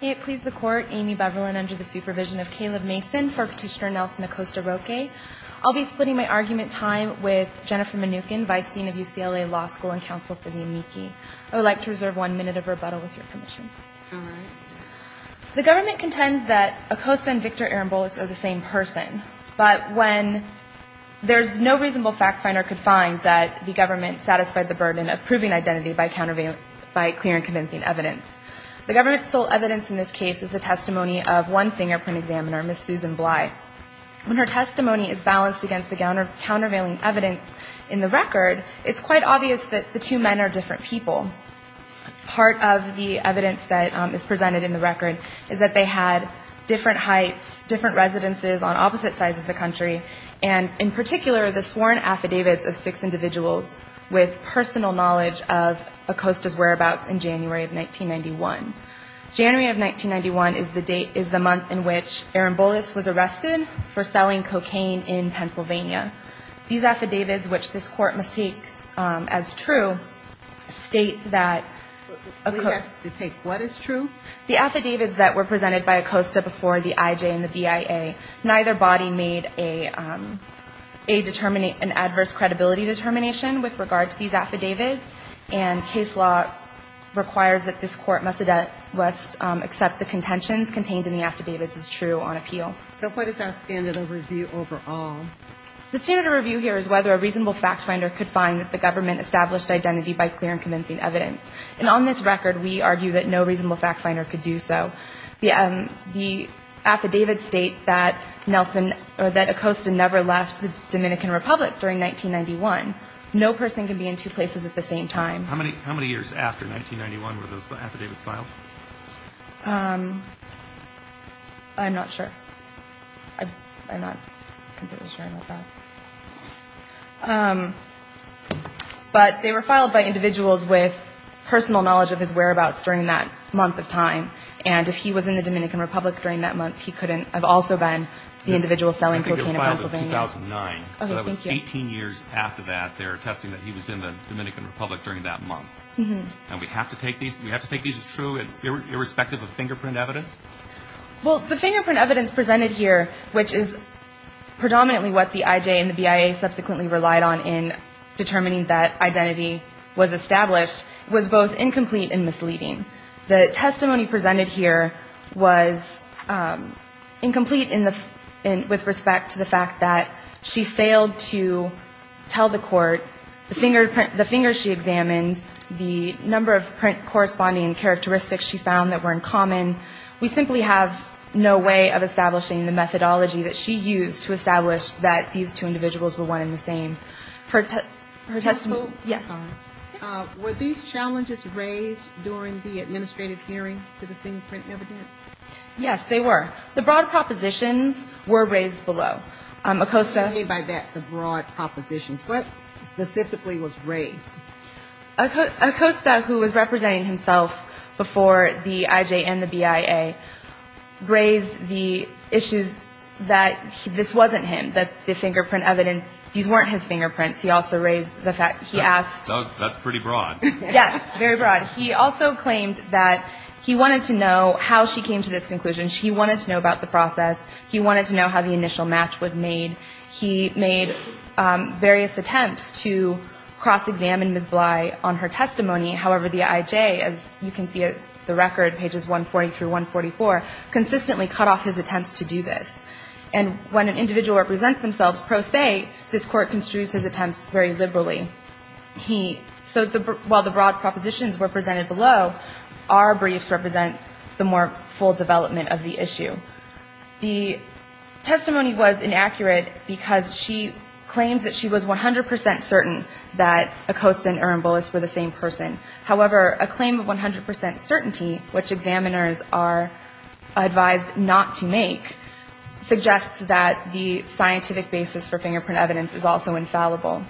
May it please the Court, Amy Beverland under the supervision of Caleb Mason for Petitioner Nelson Acosta-Roque. I'll be splitting my argument time with Jennifer Mnookin, Vice Dean of UCLA Law School and Counsel for the Amici. I would like to reserve one minute of rebuttal with your permission. The government contends that Acosta and Victor Aaron Bolas are the same person, but when there's no reasonable fact finder could find that the government satisfied the burden of clear and convincing evidence. The government's sole evidence in this case is the testimony of one fingerprint examiner, Ms. Susan Bly. When her testimony is balanced against the countervailing evidence in the record, it's quite obvious that the two men are different people. Part of the evidence that is presented in the record is that they had different heights, different residences on opposite sides of the country, and in particular the sworn affidavits of six individuals with personal knowledge of Acosta's whereabouts in January of 1991. January of 1991 is the date, is the month in which Aaron Bolas was arrested for selling cocaine in Pennsylvania. These affidavits, which this Court must take as true, state that... We have to take what is true? The affidavits that were presented by Acosta before the IJ and the BIA, neither body made a determination, an adverse credibility determination with regard to these affidavits, and case law requires that this Court must accept the contentions contained in the affidavits as true on appeal. So what is our standard of review overall? The standard of review here is whether a reasonable fact finder could find that the government established identity by clear and convincing evidence. And on this record, we argue that no reasonable fact finder could do so. The affidavits state that Acosta never left the Dominican Republic during 1991. No person can be in two places at the same time. How many years after 1991 were those affidavits filed? I'm not sure. I'm not completely sure about that. But they were filed by individuals with that month of time. And if he was in the Dominican Republic during that month, he couldn't have also been the individual selling cocaine in Pennsylvania. I think it was filed in 2009. Okay, thank you. So that was 18 years after that. They're attesting that he was in the Dominican Republic during that month. And we have to take these as true, irrespective of fingerprint evidence? Well, the fingerprint evidence presented here, which is predominantly what the IJ and the BIA subsequently relied on in determining that identity was established, was both incomplete and misleading. The testimony presented here was incomplete with respect to the fact that she failed to tell the court the finger she examined, the number of print corresponding characteristics she found that were in common. We simply have no way of establishing the methodology that she used to establish that these two individuals were one and the same. Were these challenges raised during the administrative hearing to the fingerprint evidence? Yes, they were. The broad propositions were raised below. What do you mean by that, the broad propositions? What specifically was raised? Acosta, who was representing himself before the IJ and the BIA, raised the issues that this wasn't him, that the fingerprint evidence, these weren't his fingerprints. He also raised the fact, he asked. That's pretty broad. Yes, very broad. He also claimed that he wanted to know how she came to this conclusion. He wanted to know about the process. He wanted to know how the initial match was made. He made various attempts to cross-examine Ms. Bly on her testimony. However, the IJ, as you can see at the record, pages 140 through 144, consistently cut off his attempts to cross-examine Ms. Bly. And when an individual represents themselves pro se, this Court construes his attempts very liberally. So while the broad propositions were presented below, our briefs represent the more full development of the issue. The testimony was inaccurate because she claimed that she was 100 percent certain that Acosta and Uramboulos were the same person. However, a claim of 100 percent certainty, which examiners are advised not to make, suggests that the scientific basis for fingerprint evidence is also infallible.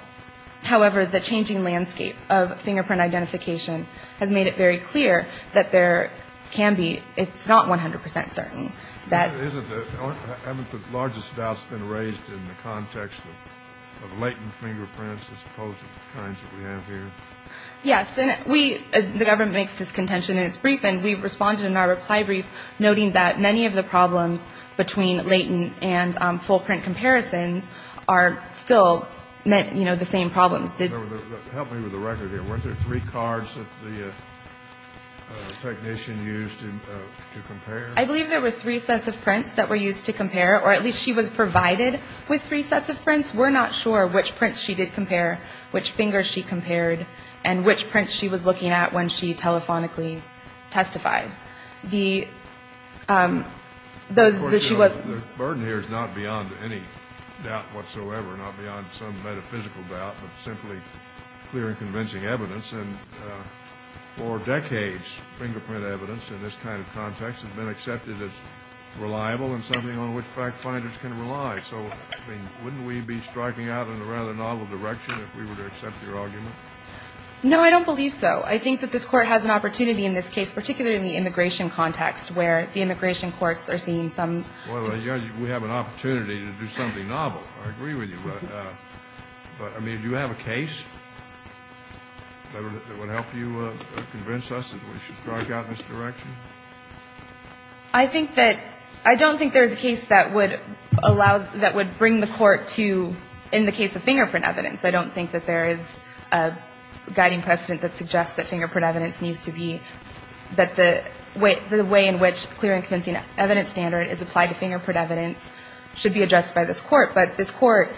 However, the changing landscape of fingerprint identification has made it very clear that there can be, it's not 100 percent certain that Isn't it, haven't the largest doubts been raised in the context of latent fingerprints as opposed to the kinds that we have here? Yes, and we, the government makes this contention in its brief, and we responded in our reply brief, noting that many of the problems between latent and full print comparisons are still met, you know, the same problems. Help me with the record here. Weren't there three cards that the technician used to compare? I believe there were three sets of prints that were used to compare, or at least she was provided with three sets of prints. We're not sure which prints she did compare, which fingers she compared, and which prints she was looking at when she telephonically testified. The burden here is not beyond any doubt whatsoever, not beyond some metaphysical doubt, but simply clear and convincing evidence. And for decades, fingerprint evidence in this kind of context has been accepted as reliable and something on which fact-finders can rely. So, I mean, wouldn't we be striking out in a rather novel direction if we were to accept your argument? No, I don't believe so. I think that this Court has an opportunity in this case, particularly in the immigration context, where the immigration courts are seeing some Well, we have an opportunity to do something novel. I agree with you. But, I mean, do you have a case that would help you convince us that we should strike out in this direction? I think that, I don't think there's a case that would allow, that would bring the Court to, in the case of fingerprint evidence, I don't think that there is a guiding precedent that suggests that fingerprint evidence needs to be, that the way in which clear and convincing evidence standard is applied to fingerprint evidence should be addressed by this Court. But this Court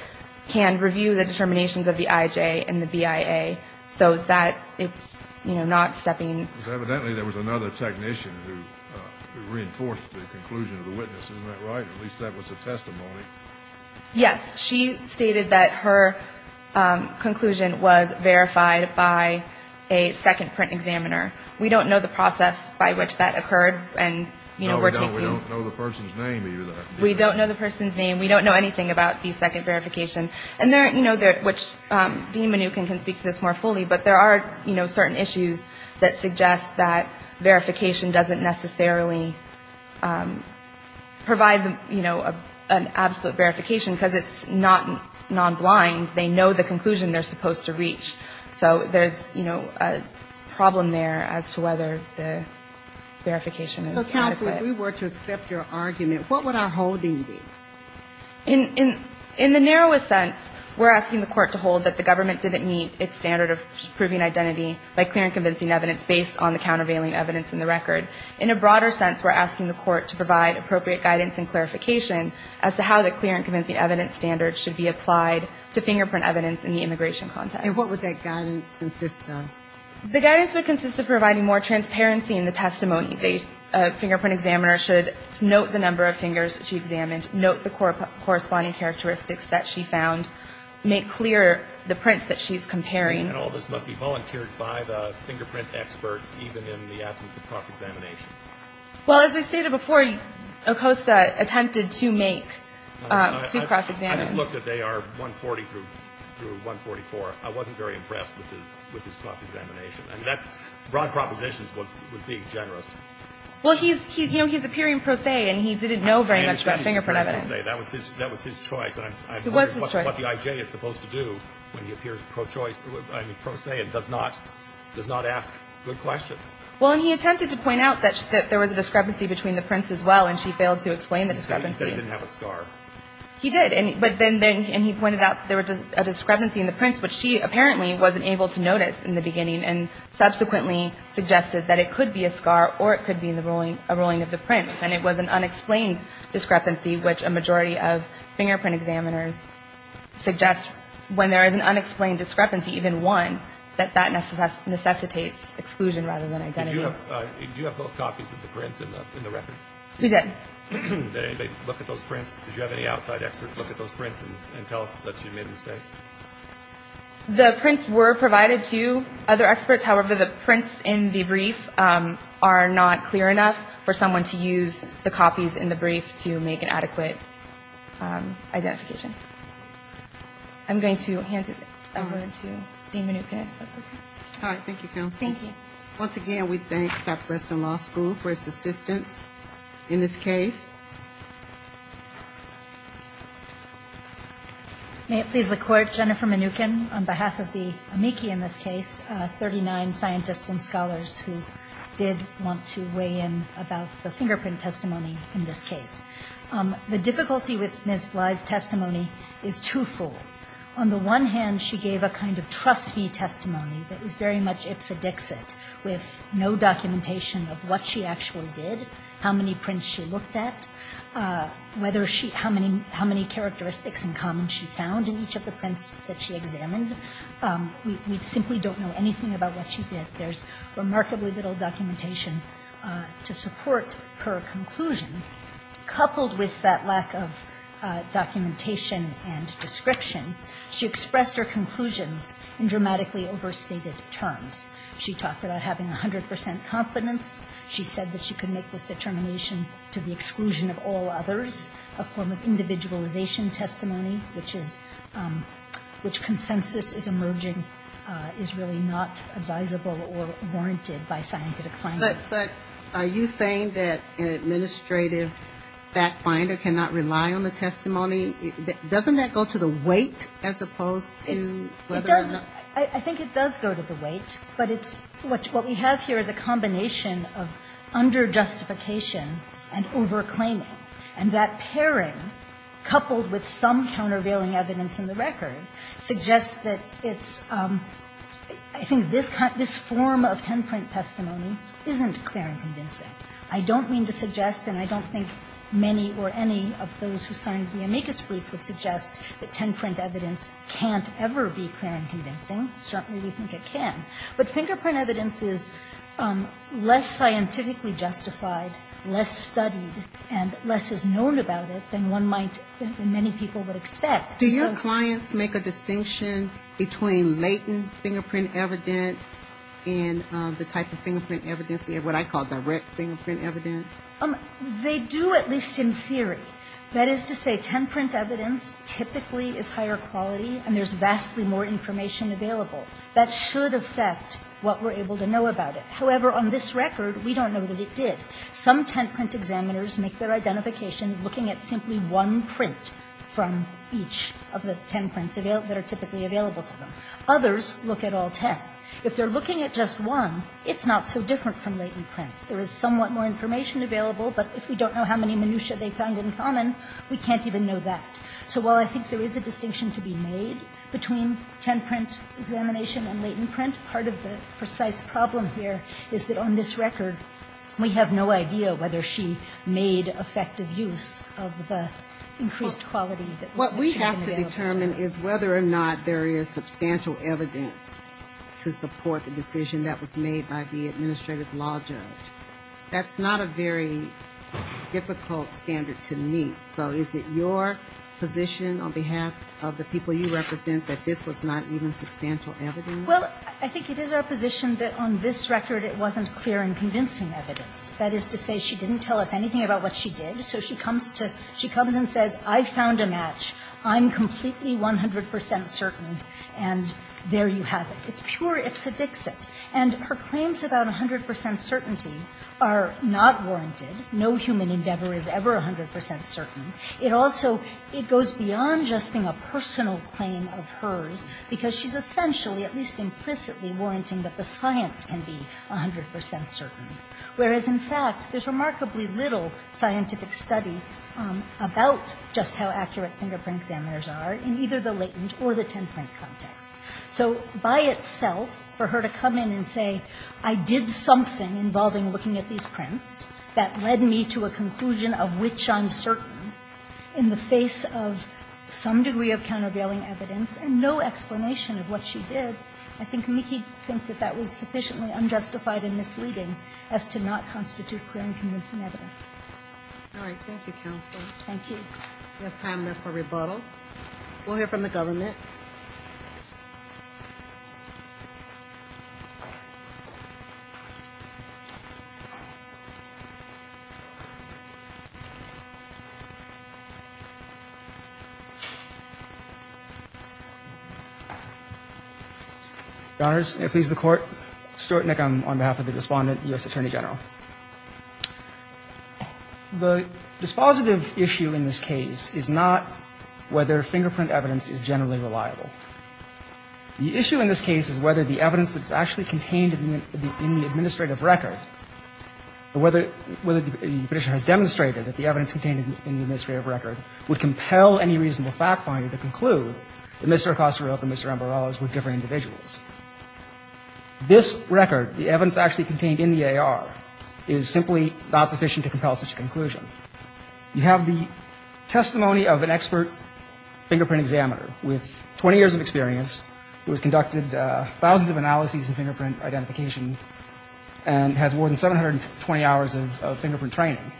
can review the determinations of the IJ and the BIA, so that it's, you know, not stepping Because evidently there was another technician who reinforced the conclusion of the witness. Isn't that right? At least that was the testimony. Yes. She stated that her conclusion was verified by a second print examiner. We don't know the process by which that occurred. No, we don't. We don't know the person's name either. We don't know the person's name. We don't know anything about the second verification. And there, you know, which Dean Mnookin can speak to this more fully, but there are, you know, certain issues that suggest that verification doesn't necessarily provide, you know, an absolute verification, because it's not non-blind. They know the conclusion they're supposed to reach. So there's, you know, a problem there as to whether the verification is adequate. So if we were to accept your argument, what would our holding be? In the narrowest sense, we're asking the Court to hold that the government didn't meet its standard of proving identity by clear and convincing evidence based on the countervailing evidence in the record. In a broader sense, we're asking the Court to provide appropriate guidance and clarification as to how the clear and convincing evidence standard should be applied to fingerprint evidence in the immigration context. And what would that guidance consist of? The guidance would consist of providing more transparency in the testimony. A fingerprint examiner should note the number of fingers she examined, note the corresponding characteristics that she found, make clear the prints that she's comparing. And all this must be volunteered by the fingerprint expert, even in the absence of cross-examination? Well, as I stated before, Acosta attempted to make, to cross-examine. I just looked at AR 140 through 144. I wasn't very impressed with his cross-examination. Broad propositions was being generous. Well, he's appearing pro se, and he didn't know very much about fingerprint evidence. That was his choice. It was his choice. And I'm wondering what the IJ is supposed to do when he appears pro se and does not ask good questions. Well, and he attempted to point out that there was a discrepancy between the prints as well, and she failed to explain the discrepancy. He said he didn't have a scar. He did, but then he pointed out there was a discrepancy in the prints, which she apparently wasn't able to notice in the beginning, and subsequently suggested that it could be a scar or it could be a rolling of the prints. And it was an unexplained discrepancy, which a majority of fingerprint examiners suggest when there is an unexplained discrepancy, even one, that that necessitates exclusion rather than identity. Did you have both copies of the prints in the record? We did. Did anybody look at those prints? Did you have any outside experts look at those prints and tell us that she made a mistake? The prints were provided to other experts. However, the prints in the brief are not clear enough for someone to use the copies in the brief to make an adequate identification. I'm going to hand it over to Dean Minooka if that's okay. Hi. Thank you, Counsel. Thank you. Once again, we thank Southwestern Law School for its assistance in this case. May it please the Court, Jennifer Minookan on behalf of the amici in this case, 39 scientists and scholars who did want to weigh in about the fingerprint testimony in this case. The difficulty with Ms. Bly's testimony is twofold. On the one hand, she gave a kind of trust me testimony that was very much ipsedixit with no documentation of what she actually did, how many prints she looked at, how many characteristics in common she found in each of the prints that she examined. We simply don't know anything about what she did. There's remarkably little documentation to support her conclusion. Coupled with that lack of documentation and description, she expressed her conclusions in dramatically overstated terms. She talked about having 100 percent confidence. She said that she could make this determination to the exclusion of all others, a form of individualization testimony, which consensus is emerging, is really not advisable or warranted by scientific findings. But are you saying that an administrative fact finder cannot rely on the testimony? Doesn't that go to the weight as opposed to whether or not? It does. I think it does go to the weight. But what we have here is a combination of under-justification and over-claiming. And that pairing, coupled with some countervailing evidence in the record, suggests that it's, I think this form of 10-print testimony isn't clear and convincing. I don't mean to suggest, and I don't think many or any of those who signed the amicus brief would suggest that 10-print evidence can't ever be clear and convincing. Certainly we think it can. But fingerprint evidence is less scientifically justified, less studied, and less is known about it than one might, than many people would expect. Do your clients make a distinction between latent fingerprint evidence and the type of fingerprint evidence, what I call direct fingerprint evidence? They do, at least in theory. That is to say, 10-print evidence typically is higher quality and there's vastly more information available. That should affect what we're able to know about it. However, on this record, we don't know that it did. Some 10-print examiners make their identification looking at simply one print from each of the 10 prints that are typically available to them. Others look at all 10. If they're looking at just one, it's not so different from latent prints. There is somewhat more information available, but if we don't know how many minutia they found in common, we can't even know that. So while I think there is a distinction to be made between 10-print examination and latent print, part of the precise problem here is that on this record we have no idea whether she made effective use of the increased quality. What we have to determine is whether or not there is substantial evidence to support the decision that was made by the administrative law judge. That's not a very difficult standard to meet. So is it your position on behalf of the people you represent that this was not even substantial evidence? Well, I think it is our position that on this record it wasn't clear and convincing evidence. That is to say, she didn't tell us anything about what she did, so she comes to – she comes and says, I found a match, I'm completely 100 percent certain, and there you have it. It's pure ifs and dicks it. And her claims about 100 percent certainty are not warranted. No human endeavor is ever 100 percent certain. It also – it goes beyond just being a personal claim of hers because she's essentially, at least implicitly, warranting that the science can be 100 percent certain. Whereas, in fact, there's remarkably little scientific study about just how accurate fingerprint examiners are in either the latent or the 10-print context. So by itself, for her to come in and say, I did something involving looking at these prints that led me to a conclusion of which I'm certain in the face of some degree of countervailing evidence and no explanation of what she did, I think Mickey would think that that was sufficiently unjustified and misleading as to not constitute clear and convincing evidence. All right. Thank you, counsel. Thank you. We have time left for rebuttal. We'll hear from the government. Your Honor, may it please the Court. Stuart Nick on behalf of the respondent, U.S. Attorney General. The dispositive issue in this case is not whether fingerprint evidence is generally reliable. does that mean that the evidence is generally reliable? The issue in this case is whether the evidence that's actually contained in the administrative record or whether the petitioner has demonstrated that the evidence contained in the administrative record would compel any reasonable fact finder to conclude that Mr. Acosta-Roeb and Mr. Ambarroz were different individuals. This record, the evidence actually contained in the AR, is simply not sufficient to compel such a conclusion. You have the testimony of an expert fingerprint examiner with 20 years of experience who has conducted thousands of analyses of fingerprint identification and has more than 720 hours of fingerprint training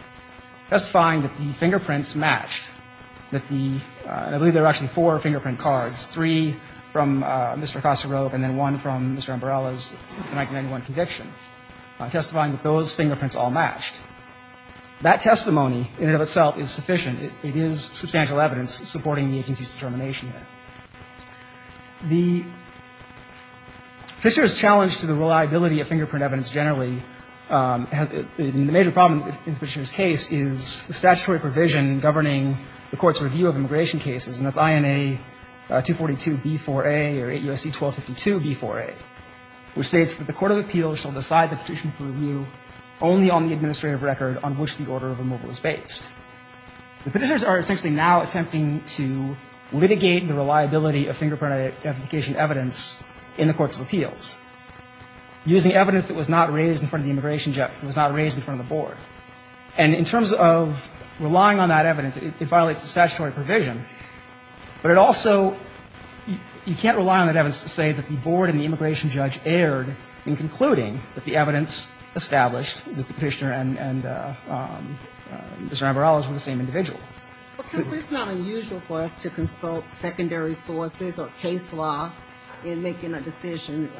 testifying that the fingerprints matched that the, I believe there are actually four fingerprint cards, three from Mr. Acosta-Roeb and then one from Mr. Ambarroz' 1991 conviction testifying that those fingerprints all matched. That testimony in and of itself is sufficient. It is substantial evidence supporting the agency's determination. The petitioner's challenge to the reliability of fingerprint evidence generally and the major problem in the petitioner's case is the statutory provision governing the court's review of immigration cases and that's INA 242b4a or 8 U.S.C. 1252b4a which states that the court of appeals shall decide the petition for review only on the administrative record on which the order of removal is based. The petitioners are essentially now attempting to litigate the reliability of fingerprint identification evidence in the courts of appeals using evidence that was not raised in front of the immigration judge that was not raised in front of the board and in terms of relying on that evidence it violates the statutory provision but it also, you can't rely on that evidence just to say that the board and the immigration judge erred in concluding that the evidence established that the petitioner and Mr. Ambrose were the same individual. Because it's not unusual for us to consult secondary sources or case law in making a decision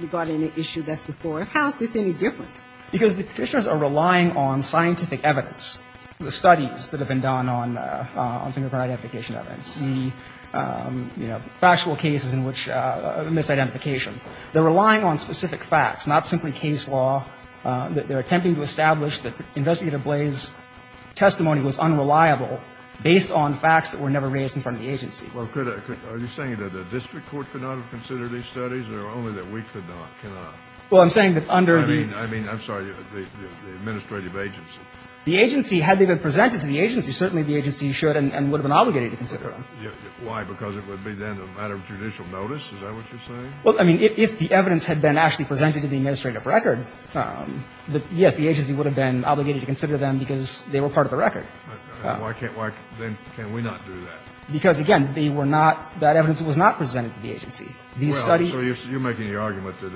regarding an issue that's before us. How is this any different? Because the petitioners are relying on scientific evidence. The studies that have been done on fingerprint identification evidence. The factual cases in which misidentification. They're relying on specific facts not simply case law. They're attempting to establish that Investigator Blay's testimony was unreliable based on facts that were never raised in front of the agency. Are you saying that the district court could not have considered these studies or only that we could not, cannot? Well, I'm saying that under the... I mean, I'm sorry, the administrative agency. The agency, had they been presented to the agency, certainly the agency should and would have been obligated to consider them. Why? Because it would be then a matter of judicial notice? Is that what you're saying? Well, I mean, if the evidence had been actually presented to the administrative record, yes, the agency would have been obligated to consider them because they were part of the record. Why can't we not do that? Because, again, they were not, that evidence was not presented to the agency. These studies... Well, so you're making the argument that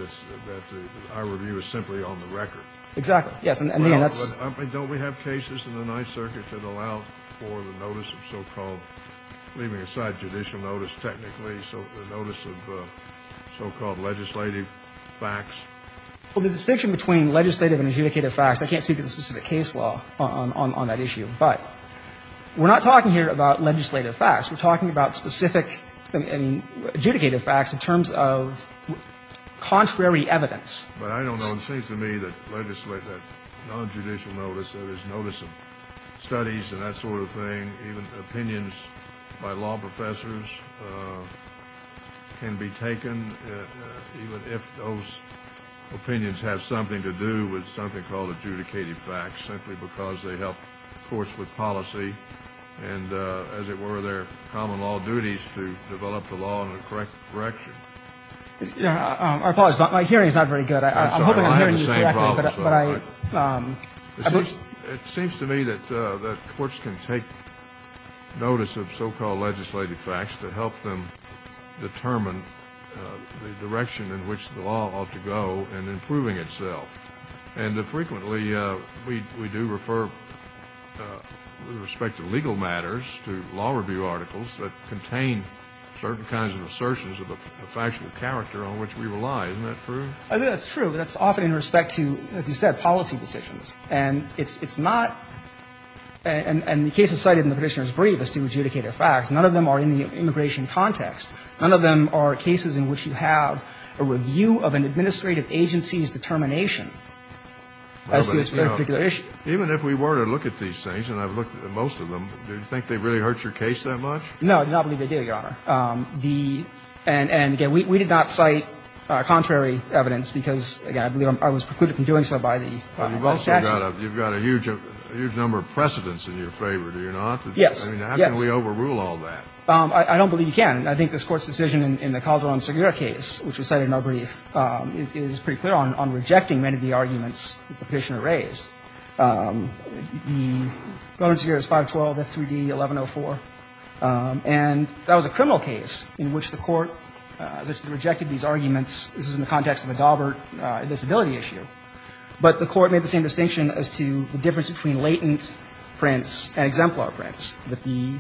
our review is simply on the record. Exactly. Yes. And, again, that's... Don't we have cases in the Ninth Circuit that allow for the notice of so-called, leaving aside judicial notice technically, the notice of so-called legislative facts? Well, the distinction between legislative and adjudicative facts, I can't speak to the specific case law on that issue. But we're not talking here about legislative facts. We're talking about specific and adjudicative facts in terms of contrary evidence. But I don't know. It seems to me that legislative, that nonjudicial notice, that is notice of studies and that sort of thing, even opinions by law professors can be taken even if those opinions have something to do with something called adjudicative facts simply because they help courts with policy and, as it were, their common law duties to develop the law in the correct direction. Our apologies. My hearing is not very good. I'm hoping I'm hearing you correctly. I'm sorry. I have the same problems, by the way. But I... It seems to me that courts can take notice of so-called legislative facts to help them determine the direction in which the law ought to go and improving itself. And, frequently, we do refer, with respect to legal matters, to law review articles that contain certain kinds of assertions of a factual character on which we rely. Isn't that true? I think that's true. That's often in respect to, as you said, policy decisions. And it's not, and the cases cited in the Petitioner's brief as to adjudicative facts, none of them are in the immigration context. None of them are cases in which you have a review of an administrative agency's determination as to a particular issue. Even if we were to look at these things, and I've looked at most of them, do you think they really hurt your case that much? No, I do not believe they do, Your Honor. And, again, we did not cite contrary evidence because, again, I believe I was precluded from doing so by the statute. But you've also got a huge number of precedents in your favor, do you not? Yes, yes. I mean, how can we overrule all that? I don't believe you can. I think this Court's decision in the Calderon-Segura case, which was cited in our brief, is pretty clear on rejecting many of the arguments the Petitioner raised. The Calderon-Segura is 512, F3D, 1104. And that was a criminal case in which the Court rejected these arguments. This was in the context of a Daubert disability issue. But the Court made the same distinction as to the difference between latent prints and exemplar prints, that the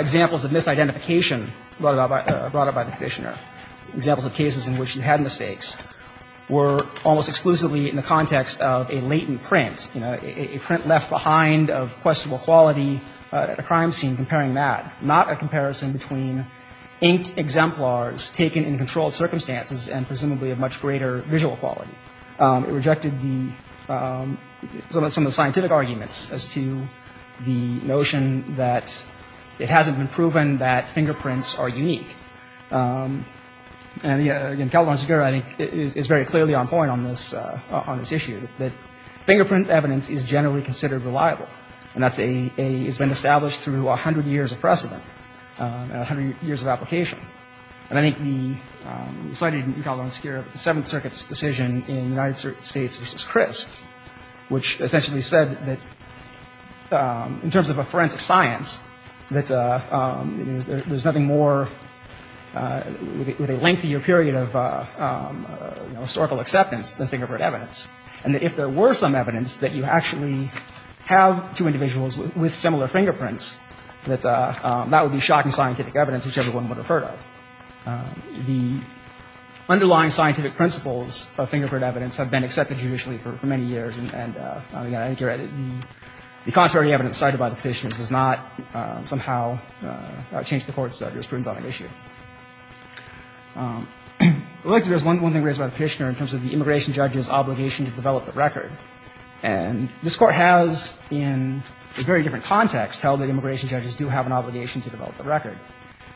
examples of misidentification brought about by the Petitioner, examples of cases in which you had mistakes, were almost exclusively in the context of a latent print, you know, a print left behind of questionable quality at a crime scene, comparing that, not a comparison between inked exemplars taken in controlled circumstances and presumably of much greater visual quality. It rejected the – some of the scientific arguments as to the notion that it hasn't been proven that fingerprints are unique. And, again, Calderon-Segura, I think, is very clearly on point on this issue, that fingerprint evidence is generally considered reliable. And that's a – it's been established through 100 years of precedent, 100 years of application. And I think the – cited in Calderon-Segura, the Seventh Circuit's decision in United States v. Chris, which essentially said that in terms of a forensic science, that there's nothing more with a lengthier period of historical acceptance than fingerprint evidence. And that if there were some evidence that you actually have two individuals with similar fingerprints, that that would be shocking scientific evidence which everyone would have heard of. The underlying scientific principles of fingerprint evidence have been accepted judicially for many years. And, again, I think you're right. The contrary evidence cited by the Petitioner does not somehow change the Court's jurisprudence on an issue. I'd like to address one thing raised by the Petitioner in terms of the immigration judge's obligation to develop the record. And this Court has in a very different context held that immigration judges do have an obligation to develop the record.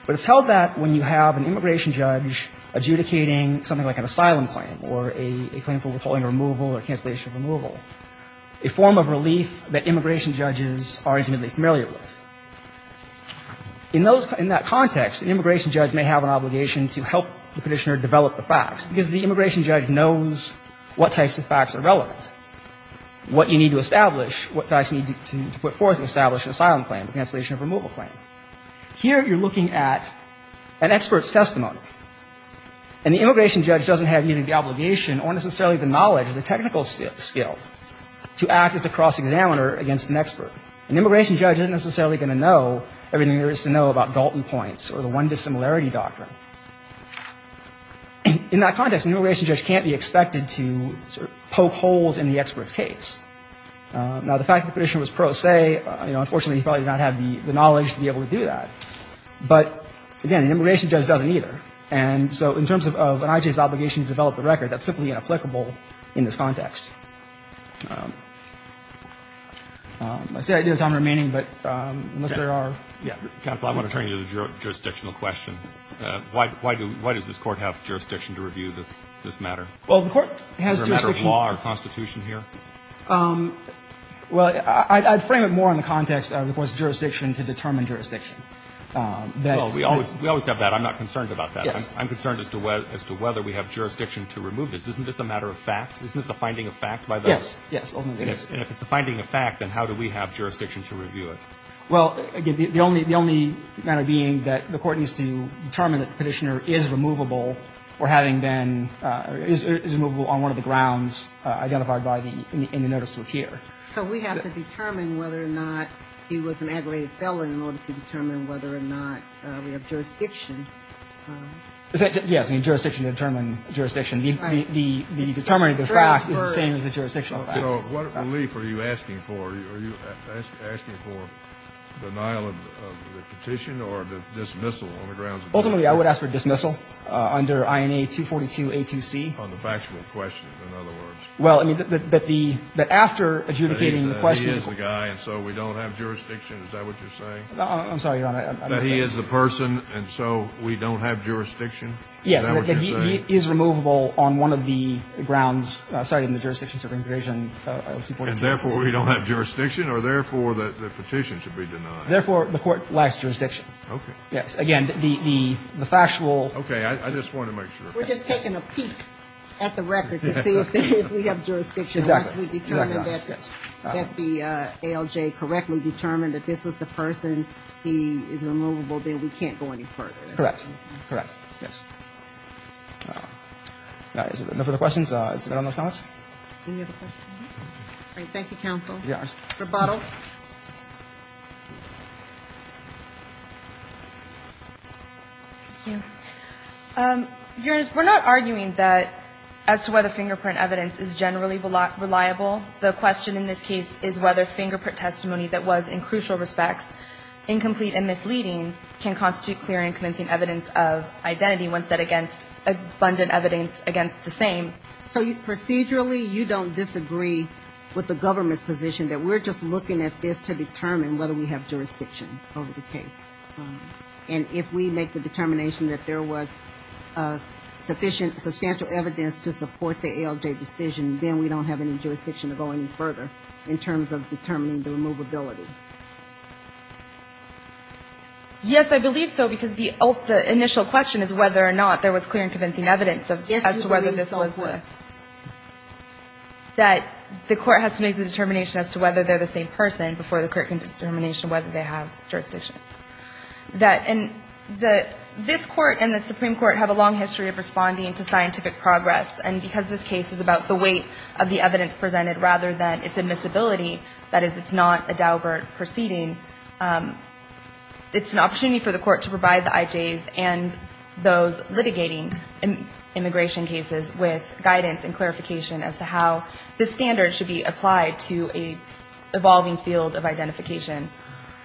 But it's held that when you have an immigration judge adjudicating something like an asylum claim or a claim for withholding removal or cancellation of removal, a form of relief that immigration judges are intimately familiar with, in those — in that context, an immigration judge may have an obligation to help the Petitioner develop the facts because the immigration judge knows what types of facts are relevant, what you need to establish, what facts you need to put forth to establish an asylum claim, a cancellation of removal claim. Here you're looking at an expert's testimony. And the immigration judge doesn't have either the obligation or necessarily the knowledge or the technical skill to act as a cross-examiner against an expert. An immigration judge isn't necessarily going to know everything there is to know about Dalton points or the one dissimilarity doctrine. In that context, an immigration judge can't be expected to poke holes in the expert's case. Now, the fact that the Petitioner was pro se, you know, unfortunately, he probably did not have the knowledge to be able to do that. But, again, an immigration judge doesn't either. And so in terms of an IJ's obligation to develop the record, that's simply inapplicable in this context. I see I do have time remaining, but unless there are — Yeah. Counsel, I want to turn you to the jurisdictional question. Why does this Court have jurisdiction to review this matter? Well, the Court has jurisdiction — Is there a matter of law or constitution here? Well, I'd frame it more in the context of the Court's jurisdiction to determine jurisdiction. Well, we always have that. I'm not concerned about that. Yes. I'm concerned as to whether we have jurisdiction to remove this. Isn't this a matter of fact? Isn't this a finding of fact by the — Yes. Yes. Ultimately, it is. And if it's a finding of fact, then how do we have jurisdiction to review it? Well, again, the only matter being that the Court needs to determine that the Petitioner is removable or having been — is removable on one of the grounds identified by the — in the notice to appear. So we have to determine whether or not he was an aggravated felon in order to determine whether or not we have jurisdiction. Yes. I mean, jurisdiction to determine jurisdiction. Right. The determination of the fact is the same as the jurisdictional fact. You know, what relief are you asking for? Are you asking for denial of the petition or the dismissal on the grounds of — Ultimately, I would ask for dismissal under INA 242a2c. On the factual question, in other words. Well, I mean, that the — that after adjudicating the question — He is the guy, and so we don't have jurisdiction. Is that what you're saying? I'm sorry, Your Honor. I'm just saying — That he is the person, and so we don't have jurisdiction? Is that what you're saying? Yes. That he is removable on one of the grounds cited in the jurisdiction-serving provision of 242a2c. And therefore, we don't have jurisdiction? Or therefore, the petition should be denied? Therefore, the Court lacks jurisdiction. Okay. Again, the factual — I just wanted to make sure. We're just taking a peek at the record to see if we have jurisdiction. Exactly. Once we determine that the ALJ correctly determined that this was the person, he is removable, then we can't go any further. Correct. Correct. Yes. All right. Is there no further questions? Is that all in those comments? Any other questions? Great. Thank you, counsel. Yes. Rebuttal. Thank you. Your Honor, we're not arguing that as to whether fingerprint evidence is generally reliable. The question in this case is whether fingerprint testimony that was, in crucial respects, incomplete and misleading, can constitute clear and convincing evidence of identity when said against abundant evidence against the same. So procedurally, you don't disagree with the government's position that we're just looking at this to determine whether we have jurisdiction over the case. And if we make the determination that there was sufficient, substantial evidence to support the ALJ decision, then we don't have any jurisdiction to go any further in terms of determining the removability. Yes, I believe so, because the initial question is whether or not there was clear and convincing evidence as to whether this was the. Yes, you believe so as well. That the court has to make the determination as to whether they're the same person before the court can determine whether they have jurisdiction. This court and the Supreme Court have a long history of responding to scientific progress, and because this case is about the weight of the evidence presented rather than its admissibility, that is, it's not a Daubert proceeding, it's an opportunity for the court to provide the IJs and those litigating immigration cases with guidance and clarification as to how this standard should be applied to an evolving field of identification.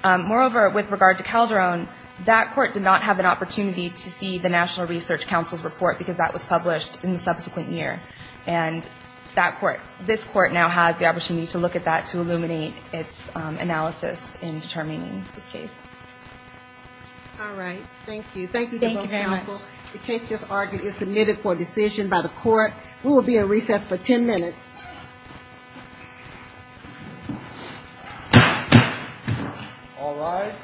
Moreover, with regard to Calderon, that court did not have an opportunity to see the National Research Council's report, because that was published in the subsequent year. And that court, this court now has the opportunity to look at that to illuminate its analysis in determining this case. All right. Thank you. Thank you. The case just argued is submitted for decision by the court. We will be at recess for 10 minutes. All rise.